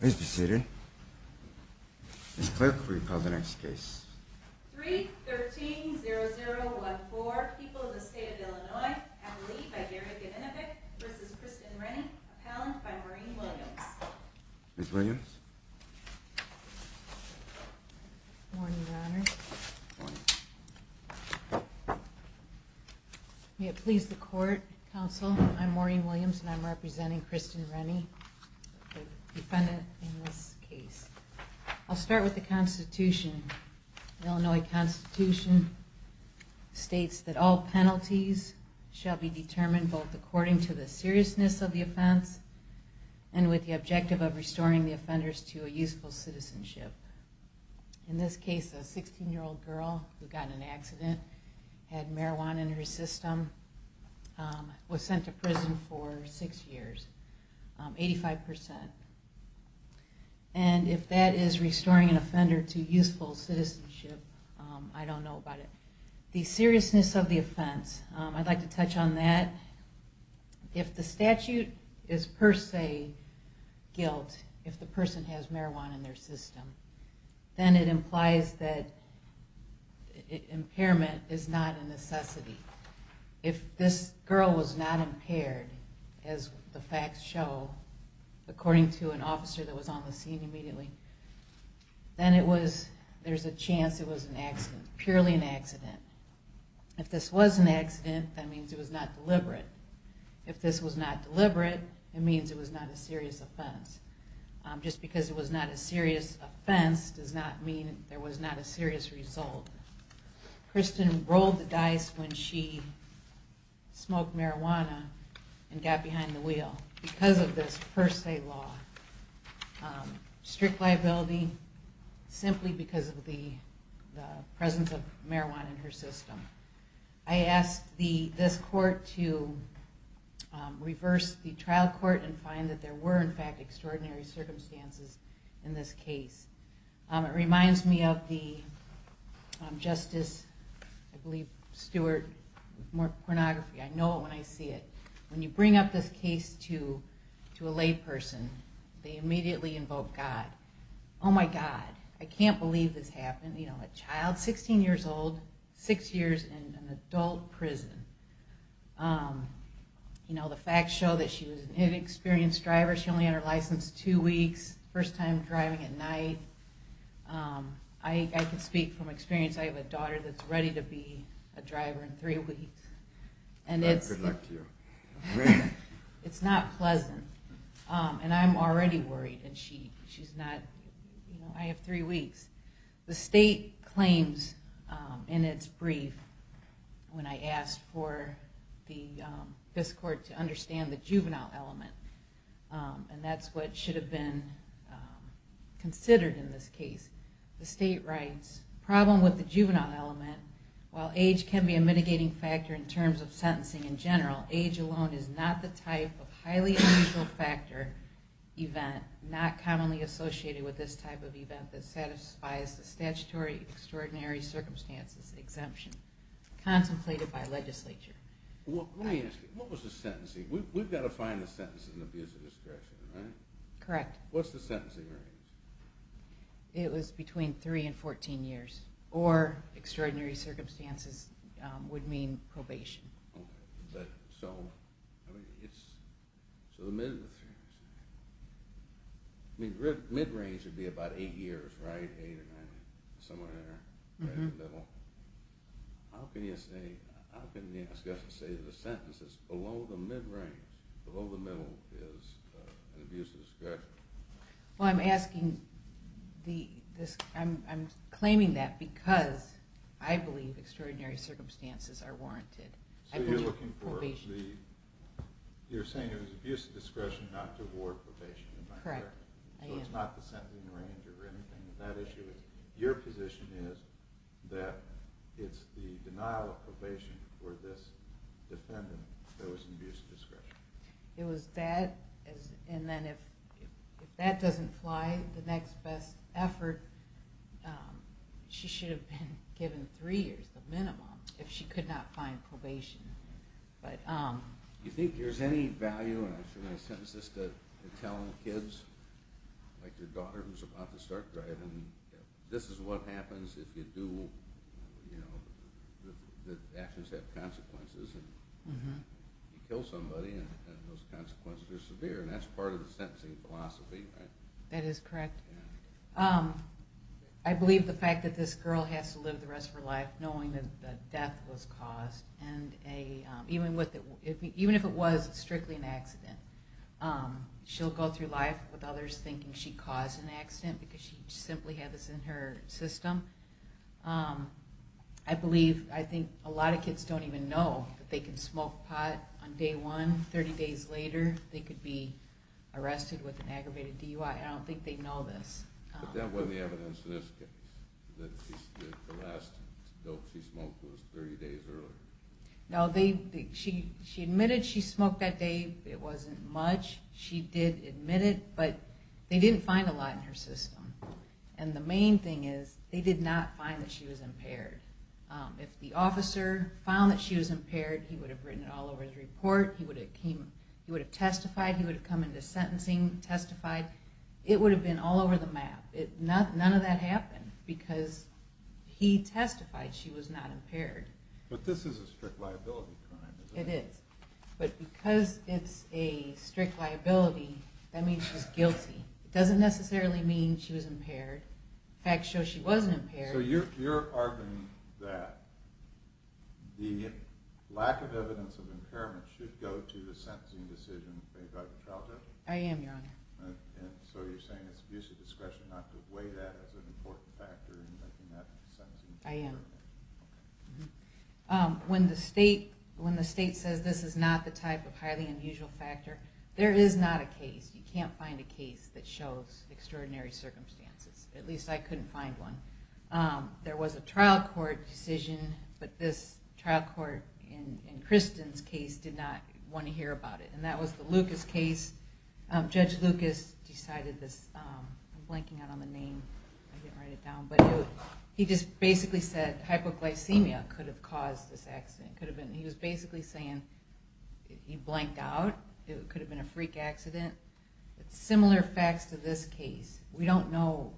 Please be seated. Ms. Clerk, will you call the next case? 3-13-0014, People of the State of Illinois, Appellee by Gary Gavinovic v. Kristen Rennie, Appellant by Maureen Williams. Ms. Williams? Good morning, Your Honor. May it please the Court, Counsel, I'm Maureen Williams and I'm representing Kristen Rennie, the defendant in this case. I'll start with the Constitution. The Illinois Constitution states that all penalties shall be determined both according to the seriousness of the offense and with the objective of restoring the offenders to a useful citizenship. In this case, a 16-year-old girl who got in an accident, had marijuana in her system, was sent to prison for six years. 85%. And if that is restoring an offender to useful citizenship, I don't know about it. The seriousness of the offense, I'd like to touch on that. If the statute is per se guilt, if the person has marijuana in their system, then it implies that impairment is not a necessity. If this girl was not impaired, as the facts show, according to an officer that was on the scene immediately, then there's a chance it was purely an accident. If this was an accident, that means it was not deliberate. If this was not deliberate, it means it was not a serious offense. Just because it was not a serious offense does not mean there was not a serious result. Kristen rolled the dice when she smoked marijuana and got behind the wheel because of this per se law. Strict liability, simply because of the presence of marijuana in her system. I asked this court to reverse the trial court and find that there were in fact extraordinary circumstances in this case. It reminds me of the Justice Stewart case. When you bring up this case to a lay person, they immediately invoke God. Oh my God, I can't believe this happened. A child, 16 years old, six years in an adult prison. The facts show that she was an inexperienced driver. She only had her license two weeks, first time driving at night. I can speak from experience. I have a daughter that's ready to be a driver in three weeks. Good luck to you. It's not pleasant. I'm already worried. I have three weeks. The state claims in its brief when I asked for this court to understand the juvenile element. That's what should have been considered in this case. The state writes, problem with the juvenile element, while age can be a mitigating factor in terms of sentencing in general, age alone is not the type of highly unusual factor, event, not commonly associated with this type of event that satisfies the statutory extraordinary circumstances exemption contemplated by legislature. What was the sentencing? We've got to find the sentence in the abuse of discretion, right? Correct. What's the sentencing range? It was between three and 14 years, or extraordinary circumstances would mean probation. So the mid-range would be about eight years, right? How can you say the sentence is below the mid-range, below the middle, is an abuse of discretion? I'm claiming that because I believe extraordinary circumstances are warranted. So you're saying it was abuse of discretion not to award probation? Correct. So it's not the sentencing range or anything? Your position is that it's the denial of probation for this defendant that was in abuse of discretion? It was that, and then if that doesn't fly, the next best effort, she should have been given three years, the minimum, if she could not find probation. Do you think there's any value, and I'm sure you're going to sentence this to tell kids, like your daughter who's about to start driving, this is what happens if actions have consequences. You kill somebody and those consequences are severe, and that's part of the sentencing philosophy, right? That is correct. I believe the fact that this girl has to live the rest of her life knowing that the death was caused, even if it was strictly an accident, she'll go through life with others thinking she caused an accident because she simply had this in her system. I believe, I think a lot of kids don't even know that they can smoke pot on day one, 30 days later, they could be arrested with an aggravated DUI. I don't think they know this. But that wasn't the evidence in this case, that the last dope she smoked was 30 days earlier. No, she admitted she smoked that day, it wasn't much, she did admit it, but they didn't find a lot in her system. And the main thing is, they did not find that she was impaired. If the officer found that she was impaired, he would have written it all over his report, he would have testified, he would have come into sentencing, testified, it would have been all over the map. None of that happened, because he testified she was not impaired. But this is a strict liability crime, isn't it? It is. But because it's a strict liability, that means she's guilty. It doesn't necessarily mean she was impaired. Facts show she wasn't impaired. So you're arguing that the lack of evidence of impairment should go to a sentencing decision made by the trial judge? I am, Your Honor. And so you're saying it's abuse of discretion not to weigh that as an important factor in making that sentencing decision? I am. When the state says this is not the type of highly unusual factor, there is not a case, you can't find a case that shows extraordinary circumstances. At least I couldn't find one. There was a trial court decision, but this trial court in Kristen's case did not want to hear about it. And that was the Lucas case. Judge Lucas decided this, I'm blanking out on the name, I can't write it down, but he just basically said hypoglycemia could have caused this accident. He was basically saying he blanked out, it could have been a freak accident. Similar facts to this case. We don't know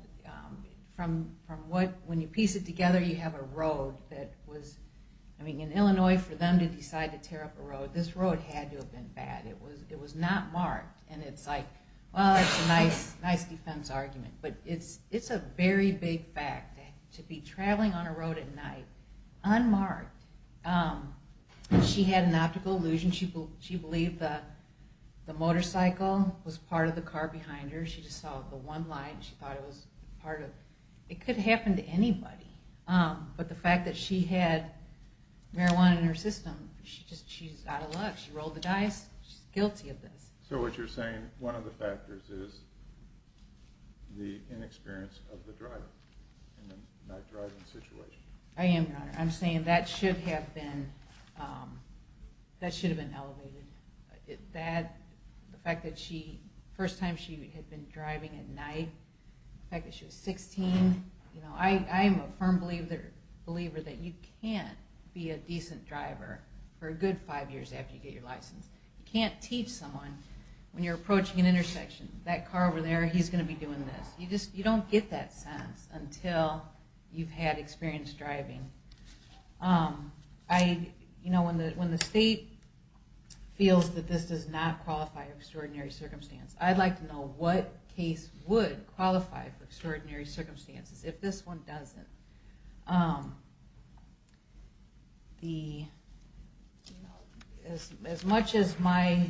from what, when you piece it together you have a road that was, I mean in Illinois for them to decide to tear up a road, this road had to have been bad. It was not marked. And it's like, well it's a nice defense argument. But it's a very big fact to be traveling on a road at night, unmarked. She had an optical illusion. She believed the motorcycle was part of the car behind her. She just saw the one light and she thought it was part of, it could happen to anybody. But the fact that she had marijuana in her system, she's out of luck, she rolled the dice, she's guilty of this. So what you're saying, one of the factors is the inexperience of the driver in the night driving situation. I am, Your Honor. I'm saying that should have been elevated. The fact that the first time she had been driving at night, the fact that she was 16, I am a firm believer that you can't be a decent driver for a good five years after you get your license. You can't teach someone when you're approaching an intersection, that car over there, he's going to be doing this. You don't get that sense until you've had experience driving. When the state feels that this does not qualify for extraordinary circumstances, I'd like to know what case would qualify for extraordinary circumstances. If this one doesn't, as much as my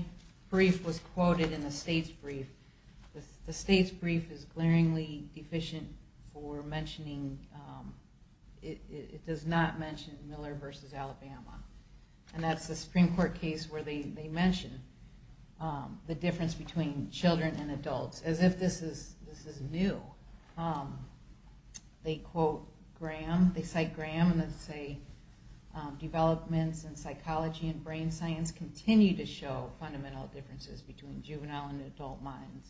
brief was quoted in the state's brief, the state's brief is glaringly deficient for mentioning, it does not mention Miller v. Alabama. And that's the Supreme Court case where they mention the difference between children and adults, as if this is new. They cite Graham and say, developments in psychology and brain science continue to show fundamental differences between juvenile and adult minds.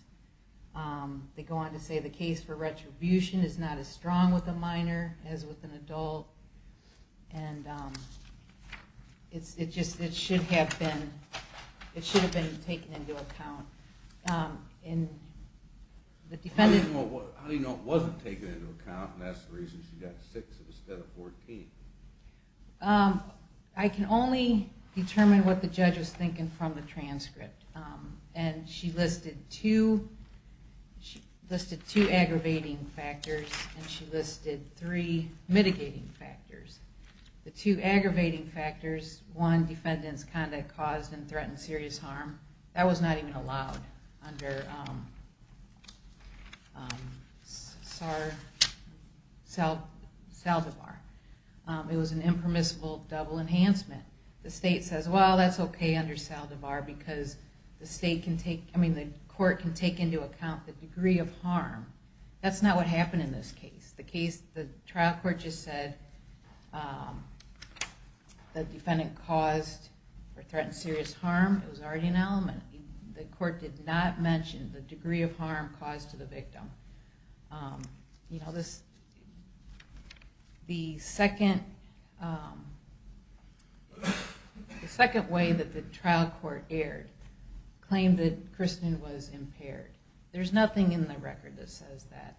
They go on to say the case for retribution is not as strong with a minor as with an adult. It should have been taken into account. How do you know it wasn't taken into account and that's the reason she got 6 instead of 14? I can only determine what the judge was thinking from the transcript. She listed two aggravating factors and three mitigating factors. The two aggravating factors, one, defendant's conduct caused and threatened serious harm. That was not even allowed under Saldivar. It was an impermissible double enhancement. The state says, well, that's okay under Saldivar because the court can take into account the degree of harm. That's not what happened in this case. The trial court just said the defendant caused or threatened serious harm. It was already an element. The court did not mention the degree of harm caused to the victim. The second way that the trial court erred claimed that Kristen was impaired. There's nothing in the record that says that.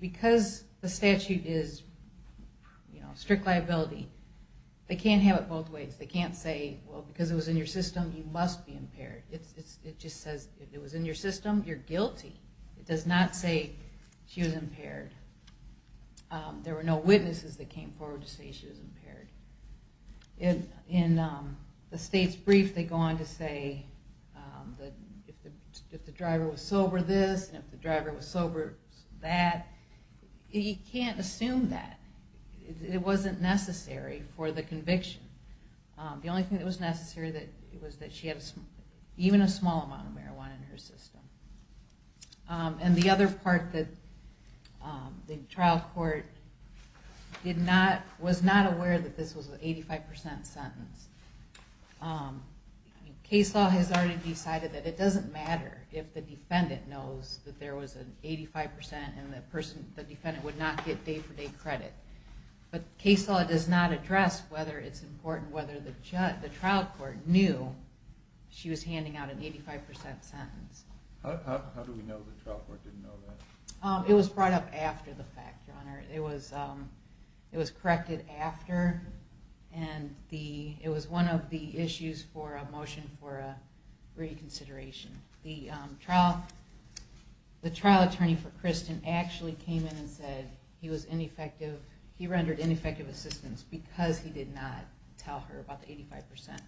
Because the statute is strict liability, they can't have it both ways. They can't say because it was in your system, you must be impaired. It just says if it was in your system, you're guilty. It does not say she was impaired. There were no witnesses that came forward to say she was impaired. In the state's brief, they go on to say if the driver was sober this and if the driver was sober that. You can't assume that. It wasn't necessary for the conviction. The only thing that was necessary was that she had even a small amount of marijuana in her system. And the other part that the trial court was not aware that this was an 85% sentence. Case law has already decided that it doesn't matter if the defendant knows that there was an 85% and the defendant would not get day-for-day credit. But case law does not address whether it's important whether the trial court knew she was handing out an 85% sentence. How do we know the trial court didn't know that? It was brought up after the fact. It was corrected after and it was one of the issues for a motion for reconsideration. The trial attorney for Kristen actually came in and said he rendered ineffective assistance because he did not tell her about the 85%.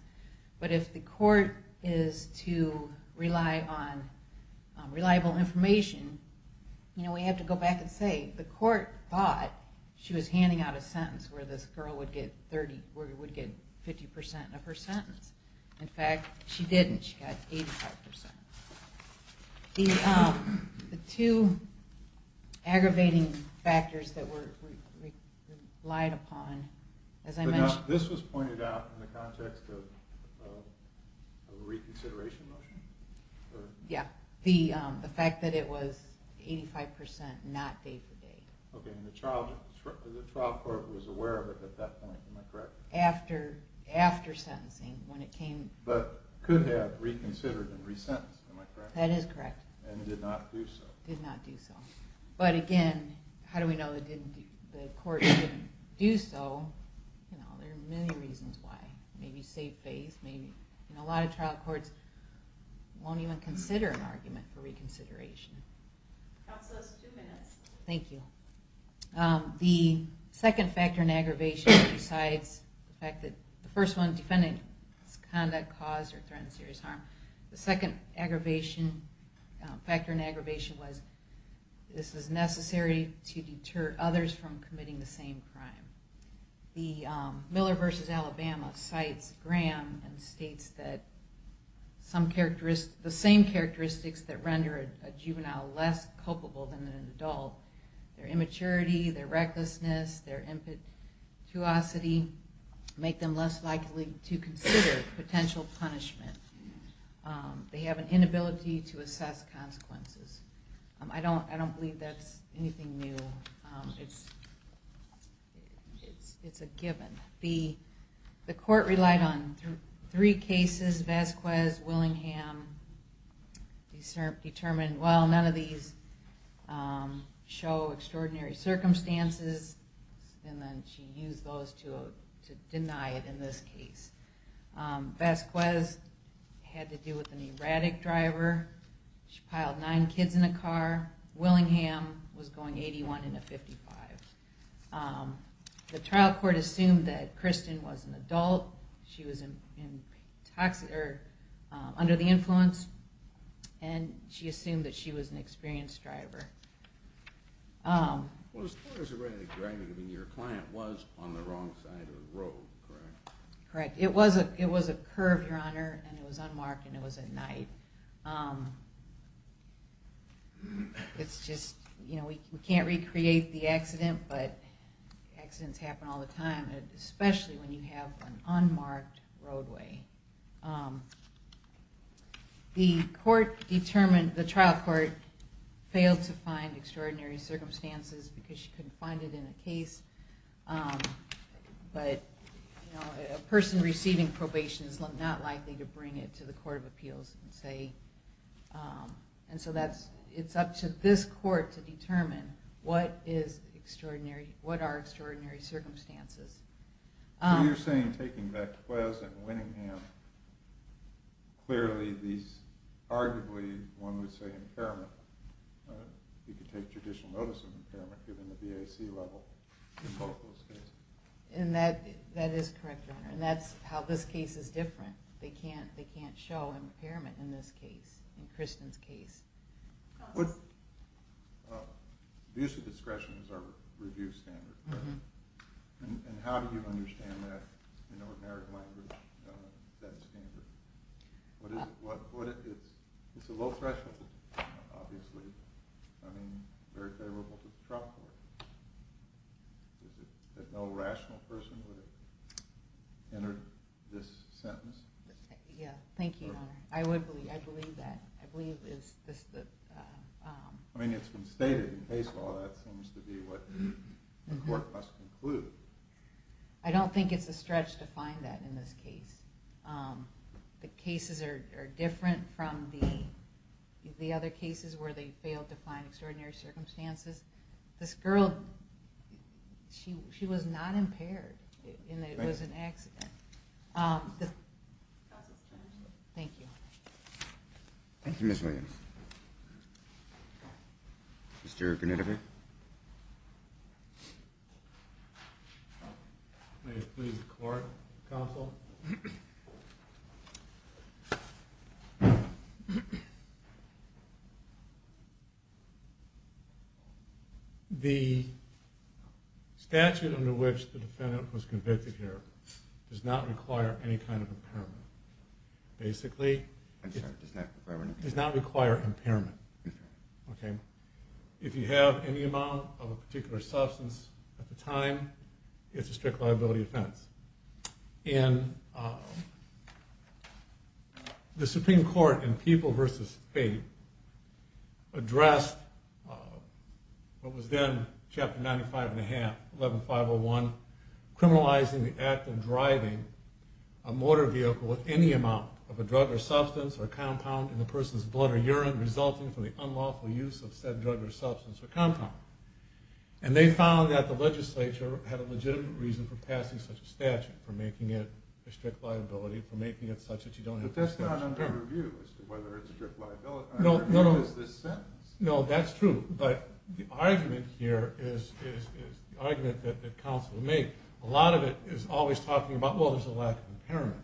But if the court is to rely on reliable information, we have to go back and say the court thought she was handing out a sentence where this girl would get 50% of her sentence. In fact, she didn't. She got 85%. The two aggravating factors that were relied upon, as I mentioned... This was pointed out in the context of a reconsideration motion? Yeah, the fact that it was 85% not day-for-day. Okay, and the trial court was aware of it at that point, am I correct? After sentencing, when it came... But could have reconsidered and resentenced, am I correct? That is correct. And did not do so. Did not do so. But again, how do we know the court didn't do so? There are many reasons why. Maybe safe base. A lot of trial courts won't even consider an argument for reconsideration. Counsel, that's two minutes. Thank you. The second factor in aggravation besides the fact that the first one, defendant conduct caused or threatened serious harm, the second factor in aggravation was this is necessary to deter others from committing the same crime. The Miller v. Alabama cites Graham and states that the same characteristics that render a juvenile less culpable than an adult, their immaturity, their recklessness, their impetuosity, make them less likely to consider potential punishment. They have an inability to assess consequences. I don't believe that's anything new. It's a given. The court relied on three cases, Vasquez, Willingham, determined, well, none of these show extraordinary circumstances. And then she used those to deny it in this case. Vasquez had to do with an erratic driver. She piled nine kids in a car. Willingham was going 81 in a 55. The trial court assumed that Kristen was an adult. She was under the influence, and she assumed that she was an experienced driver. Well, as far as erratic driving, I mean, your client was on the wrong side of the road, correct? Correct. It was a curve, Your Honor, and it was unmarked, and it was at night. It's just, you know, we can't recreate the accident, but accidents happen all the time, especially when you have an unmarked roadway. The court determined, the trial court failed to find extraordinary circumstances because she couldn't find it in the case. But, you know, a person receiving probation is not likely to bring it to the court of appeals and say, and so that's, it's up to this court to determine what is extraordinary, what are extraordinary circumstances. So you're saying taking Vasquez and Willingham, clearly these, arguably, one would say impairment, you could take judicial notice of impairment given the BAC level in both those cases. And that is correct, Your Honor, and that's how this case is different. They can't show impairment in this case, in Kristen's case. Abusive discretion is our review standard, correct? Mm-hmm. And how do you understand that in ordinary language, that standard? What is it, it's a low threshold, obviously. I mean, very favorable to the trial court. Is it that no rational person would have entered this sentence? Yeah, thank you, Your Honor. I would believe, I believe that. I mean, it's been stated in case law that seems to be what the court must conclude. I don't think it's a stretch to find that in this case. The cases are different from the other cases where they failed to find extraordinary circumstances. This girl, she was not impaired in that it was an accident. Counsel's term is up. Thank you. Thank you, Ms. Williams. Mr. Grunewald. May it please the court, counsel. Thank you. The statute under which the defendant was convicted here does not require any kind of impairment. Basically, it does not require impairment. If you have any amount of a particular substance at the time, it's a strict liability offense. And the Supreme Court in People v. State addressed what was then chapter 95 and a half, 11501, criminalizing the act of driving a motor vehicle with any amount of a drug or substance or compound in the person's blood or urine resulting from the unlawful use of said drug or substance or compound. And they found that the legislature had a legitimate reason for passing such a statute, for making it a strict liability, for making it such that you don't have to pay. But that's not under review as to whether it's a strict liability. No, no, no. Under review is this sentence. No, that's true. But the argument here is the argument that counsel would make. A lot of it is always talking about, well, there's a lack of impairment.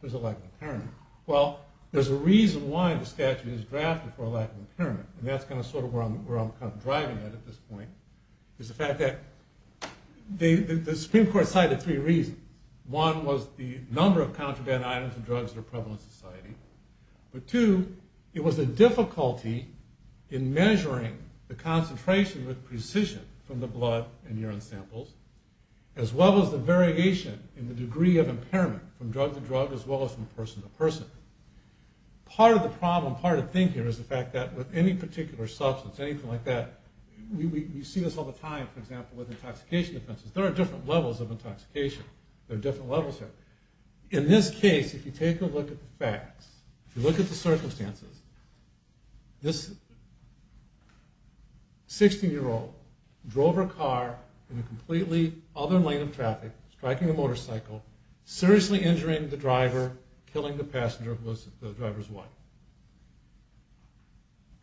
There's a lack of impairment. Well, there's a reason why the statute is drafted for a lack of impairment. And that's kind of sort of where I'm kind of driving at at this point, is the fact that the Supreme Court cited three reasons. One was the number of contraband items and drugs that are prevalent in society. But two, it was the difficulty in measuring the concentration with precision from the blood and urine samples, as well as the variation in the degree of impairment from drug to drug as well as from person to person. Part of the problem, part of the thing here is the fact that with any particular substance, anything like that, you see this all the time, for example, with intoxication offenses. There are different levels of intoxication. There are different levels there. In this case, if you take a look at the facts, if you look at the circumstances, this 16-year-old drove her car in a completely other lane of traffic, striking a motorcycle, seriously injuring the driver, killing the passenger who was the driver's wife.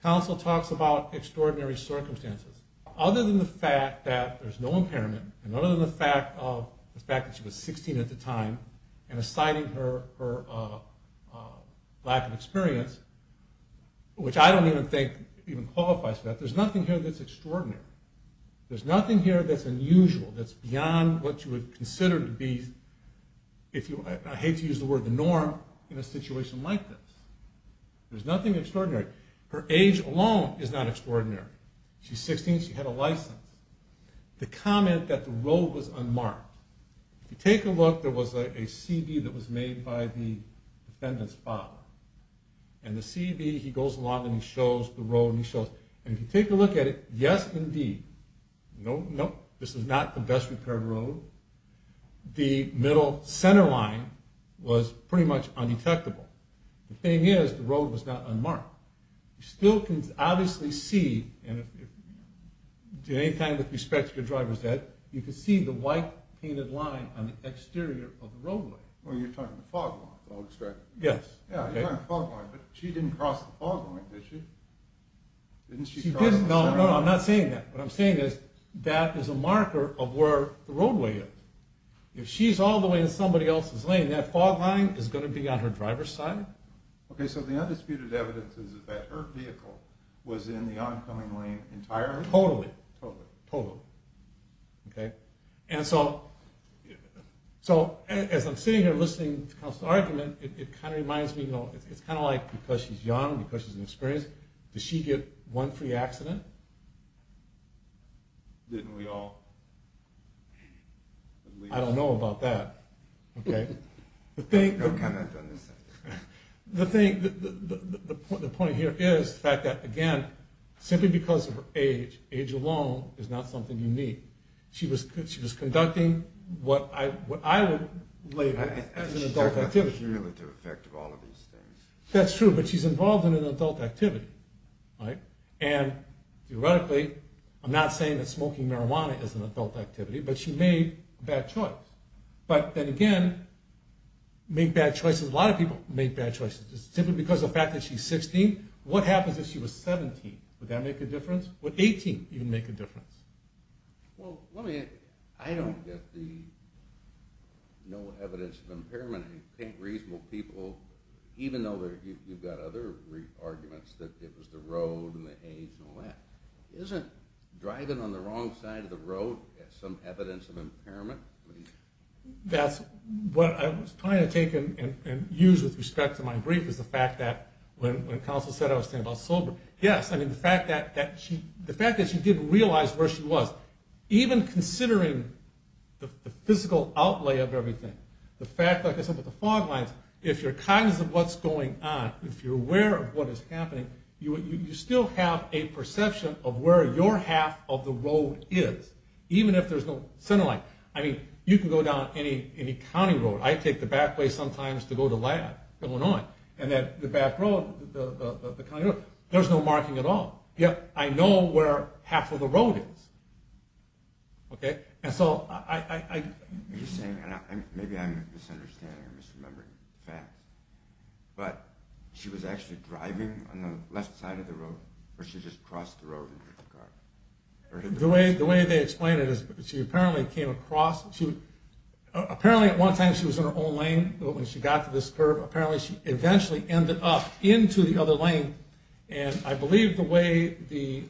Counsel talks about extraordinary circumstances. Other than the fact that there's no impairment, and other than the fact that she was 16 at the time and citing her lack of experience, which I don't even think even qualifies for that, there's nothing here that's extraordinary. There's nothing here that's unusual, that's beyond what you would consider to be, I hate to use the word the norm, in a situation like this. There's nothing extraordinary. Her age alone is not extraordinary. She's 16, she had a license. The comment that the road was unmarked. If you take a look, there was a CV that was made by the defendant's father. And if you take a look at it, yes indeed, no, no, this is not the best repaired road. The middle center line was pretty much undetectable. The thing is, the road was not unmarked. You still can obviously see, and if at any time with respect to your driver's death, you can see the white painted line on the exterior of the roadway. Yes. No, no, I'm not saying that. What I'm saying is, that is a marker of where the roadway is. If she's all the way in somebody else's lane, that fog line is going to be on her driver's side. Okay, so the undisputed evidence is that her vehicle was in the oncoming lane entirely? Totally. Totally. Totally. Okay. And so, as I'm sitting here listening to counsel's argument, it kind of reminds me, you know, it's kind of like, because she's young, because she's inexperienced, does she get one free accident? Didn't we all? I don't know about that. Okay. No comment on this. The thing, the point here is, the fact that, again, simply because of her age, age alone is not something unique. She was conducting what I would label as an adult activity. There's no cumulative effect of all of these things. That's true, but she's involved in an adult activity, right? And, theoretically, I'm not saying that smoking marijuana is an adult activity, but she made a bad choice. But, then again, make bad choices, a lot of people make bad choices, simply because of the fact that she's 16. What happens if she was 17? Would that make a difference? Would 18 even make a difference? Well, let me, I don't get the no evidence of impairment. I mean, paint reasonable people, even though you've got other arguments, that it was the road and the age and all that. Isn't driving on the wrong side of the road some evidence of impairment? That's what I was trying to take and use with respect to my brief, is the fact that when counsel said I was thinking about sober, yes. I mean, the fact that she did realize where she was, even considering the physical outlay of everything, the fact, like I said, with the fog lines, if you're cognizant of what's going on, if you're aware of what is happening, you still have a perception of where your half of the road is, even if there's no center line. I mean, you can go down any county road. I take the back way sometimes to go to lab, going on, and then the back road, the county road, there's no marking at all. Yet, I know where half of the road is. Okay? And so I... Are you saying, maybe I'm misunderstanding or misremembering facts, but she was actually driving on the left side of the road, or she just crossed the road and hit the car? The way they explain it is she apparently came across, apparently at one time she was in her own lane when she got to this curb. Apparently she eventually ended up into the other lane, and I believe the way the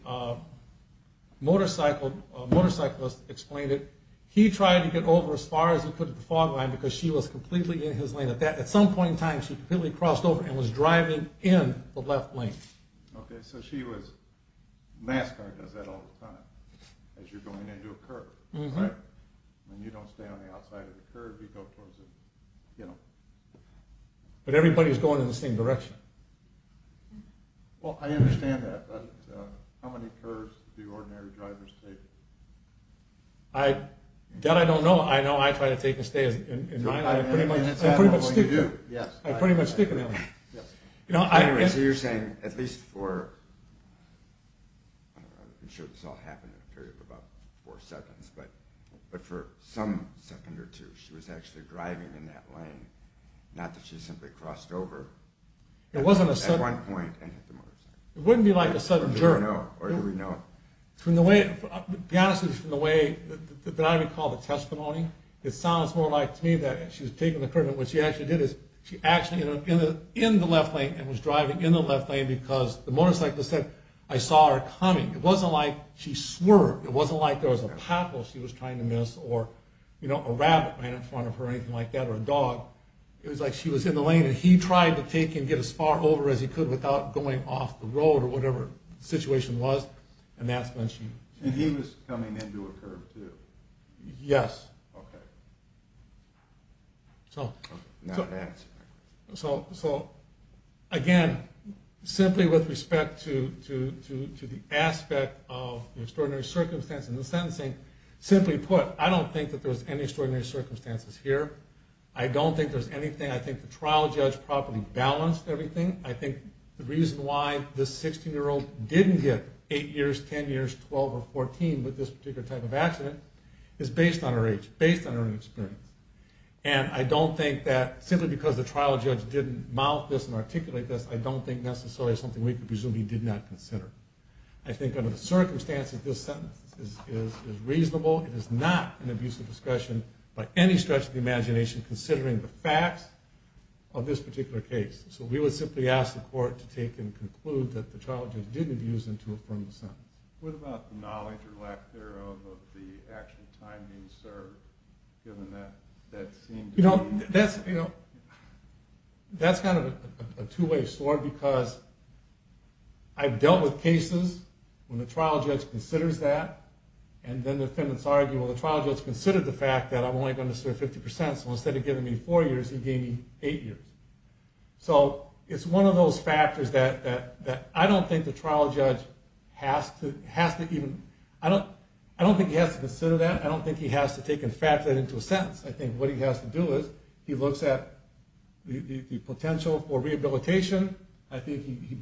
motorcyclist explained it, he tried to get over as far as he could at the fog line because she was completely in his lane. At some point in time, she completely crossed over and was driving in the left lane. Okay, so she was... NASCAR does that all the time, as you're going into a curb, right? When you don't stay on the outside of the curb, you go towards the... You know. But everybody's going in the same direction. Well, I understand that. But how many curves do ordinary drivers take? That I don't know. I know I try to take and stay in line. I pretty much stick to them. I pretty much stick to them. Anyway, so you're saying, at least for... I'm sure this all happened in a period of about four seconds, but for some second or two, she was actually driving in that lane, not that she simply crossed over. It wasn't a sudden... At one point, and hit the motorcycle. It wouldn't be like a sudden jerk. Or you would know it. To be honest with you, from the way that I recall the testimony, it sounds more like to me that she was taking the curve, and what she actually did is she was actually in the left lane and was driving in the left lane because the motorcyclist said, I saw her coming. It wasn't like she swerved. It wasn't like there was a pothole she was trying to miss or a rabbit ran in front of her or anything like that, or a dog. It was like she was in the lane, and he tried to take and get as far over as he could without going off the road or whatever the situation was, and that's when she... And he was coming into a curve, too. Yes. Okay. So... Now that's... So, again, simply with respect to the aspect of the extraordinary circumstance in the sentencing, simply put, I don't think that there was any extraordinary circumstances here. I don't think there's anything... I think the trial judge properly balanced everything. I think the reason why this 16-year-old didn't get 8 years, 10 years, 12, or 14 with this particular type of accident is based on her age, based on her own experience. And I don't think that simply because the trial judge didn't mouth this and articulate this, I don't think necessarily it's something we could presume he did not consider. I think under the circumstances, this sentence is reasonable. It is not an abuse of discretion by any stretch of the imagination considering the facts of this particular case. So we would simply ask the court to take and conclude that the trial judge didn't abuse them to affirm the sentence. What about the knowledge or lack thereof of the actual time being served, given that that seemed to be... You know, that's kind of a two-way store because I've dealt with cases when the trial judge considers that and then defendants argue, well, the trial judge considered the fact that I'm only going to serve 50%, so instead of giving me 4 years, he gave me 8 years. So it's one of those factors that I don't think the trial judge has to even... I don't think he has to consider that. I don't think he has to take and factor that into a sentence. I think what he has to do is he looks at the potential for rehabilitation. I think he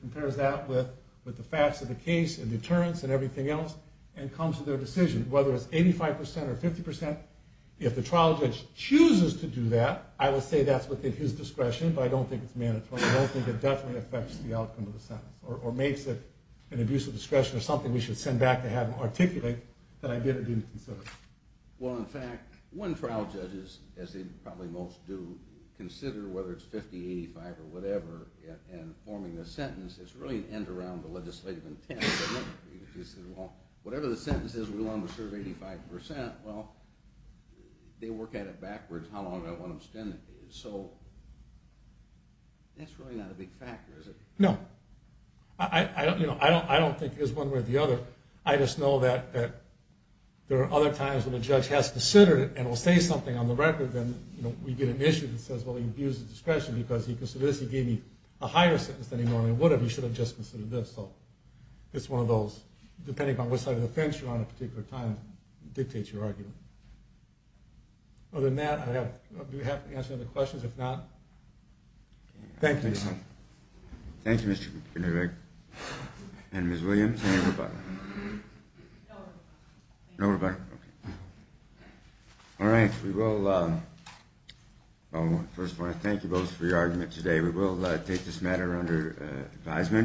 compares that with the facts of the case and deterrence and everything else and comes to their decision, whether it's 85% or 50%. If the trial judge chooses to do that, I will say that's within his discretion, but I don't think it's mandatory. I don't think it definitely affects the outcome of the sentence or makes it an abuse of discretion or something we should send back to have him articulate that I did or didn't consider. Well, in fact, when trial judges, as they probably most do, consider whether it's 50%, 85% or whatever and forming a sentence, it's really an end around the legislative intent. Whatever the sentence is, we want them to serve 85%. Well, they work at it backwards how long I want them to spend it. So that's really not a big factor, is it? No. I don't think it's one way or the other. I just know that there are other times when a judge has considered it and will say something on the record, then we get an issue that says, well, he abused his discretion because he considered this. He gave me a higher sentence than he normally would have. He should have just considered this. So it's one of those, depending on what side of the fence you're on at a particular time, dictates your argument. Other than that, do we have to answer any other questions? If not, thank you. Thank you, Mr. Kinnear. And Ms. Williams, any rebuttal? No rebuttal. No rebuttal, okay. All right. First of all, I want to thank you both for your argument today. We will take this matter under advisement.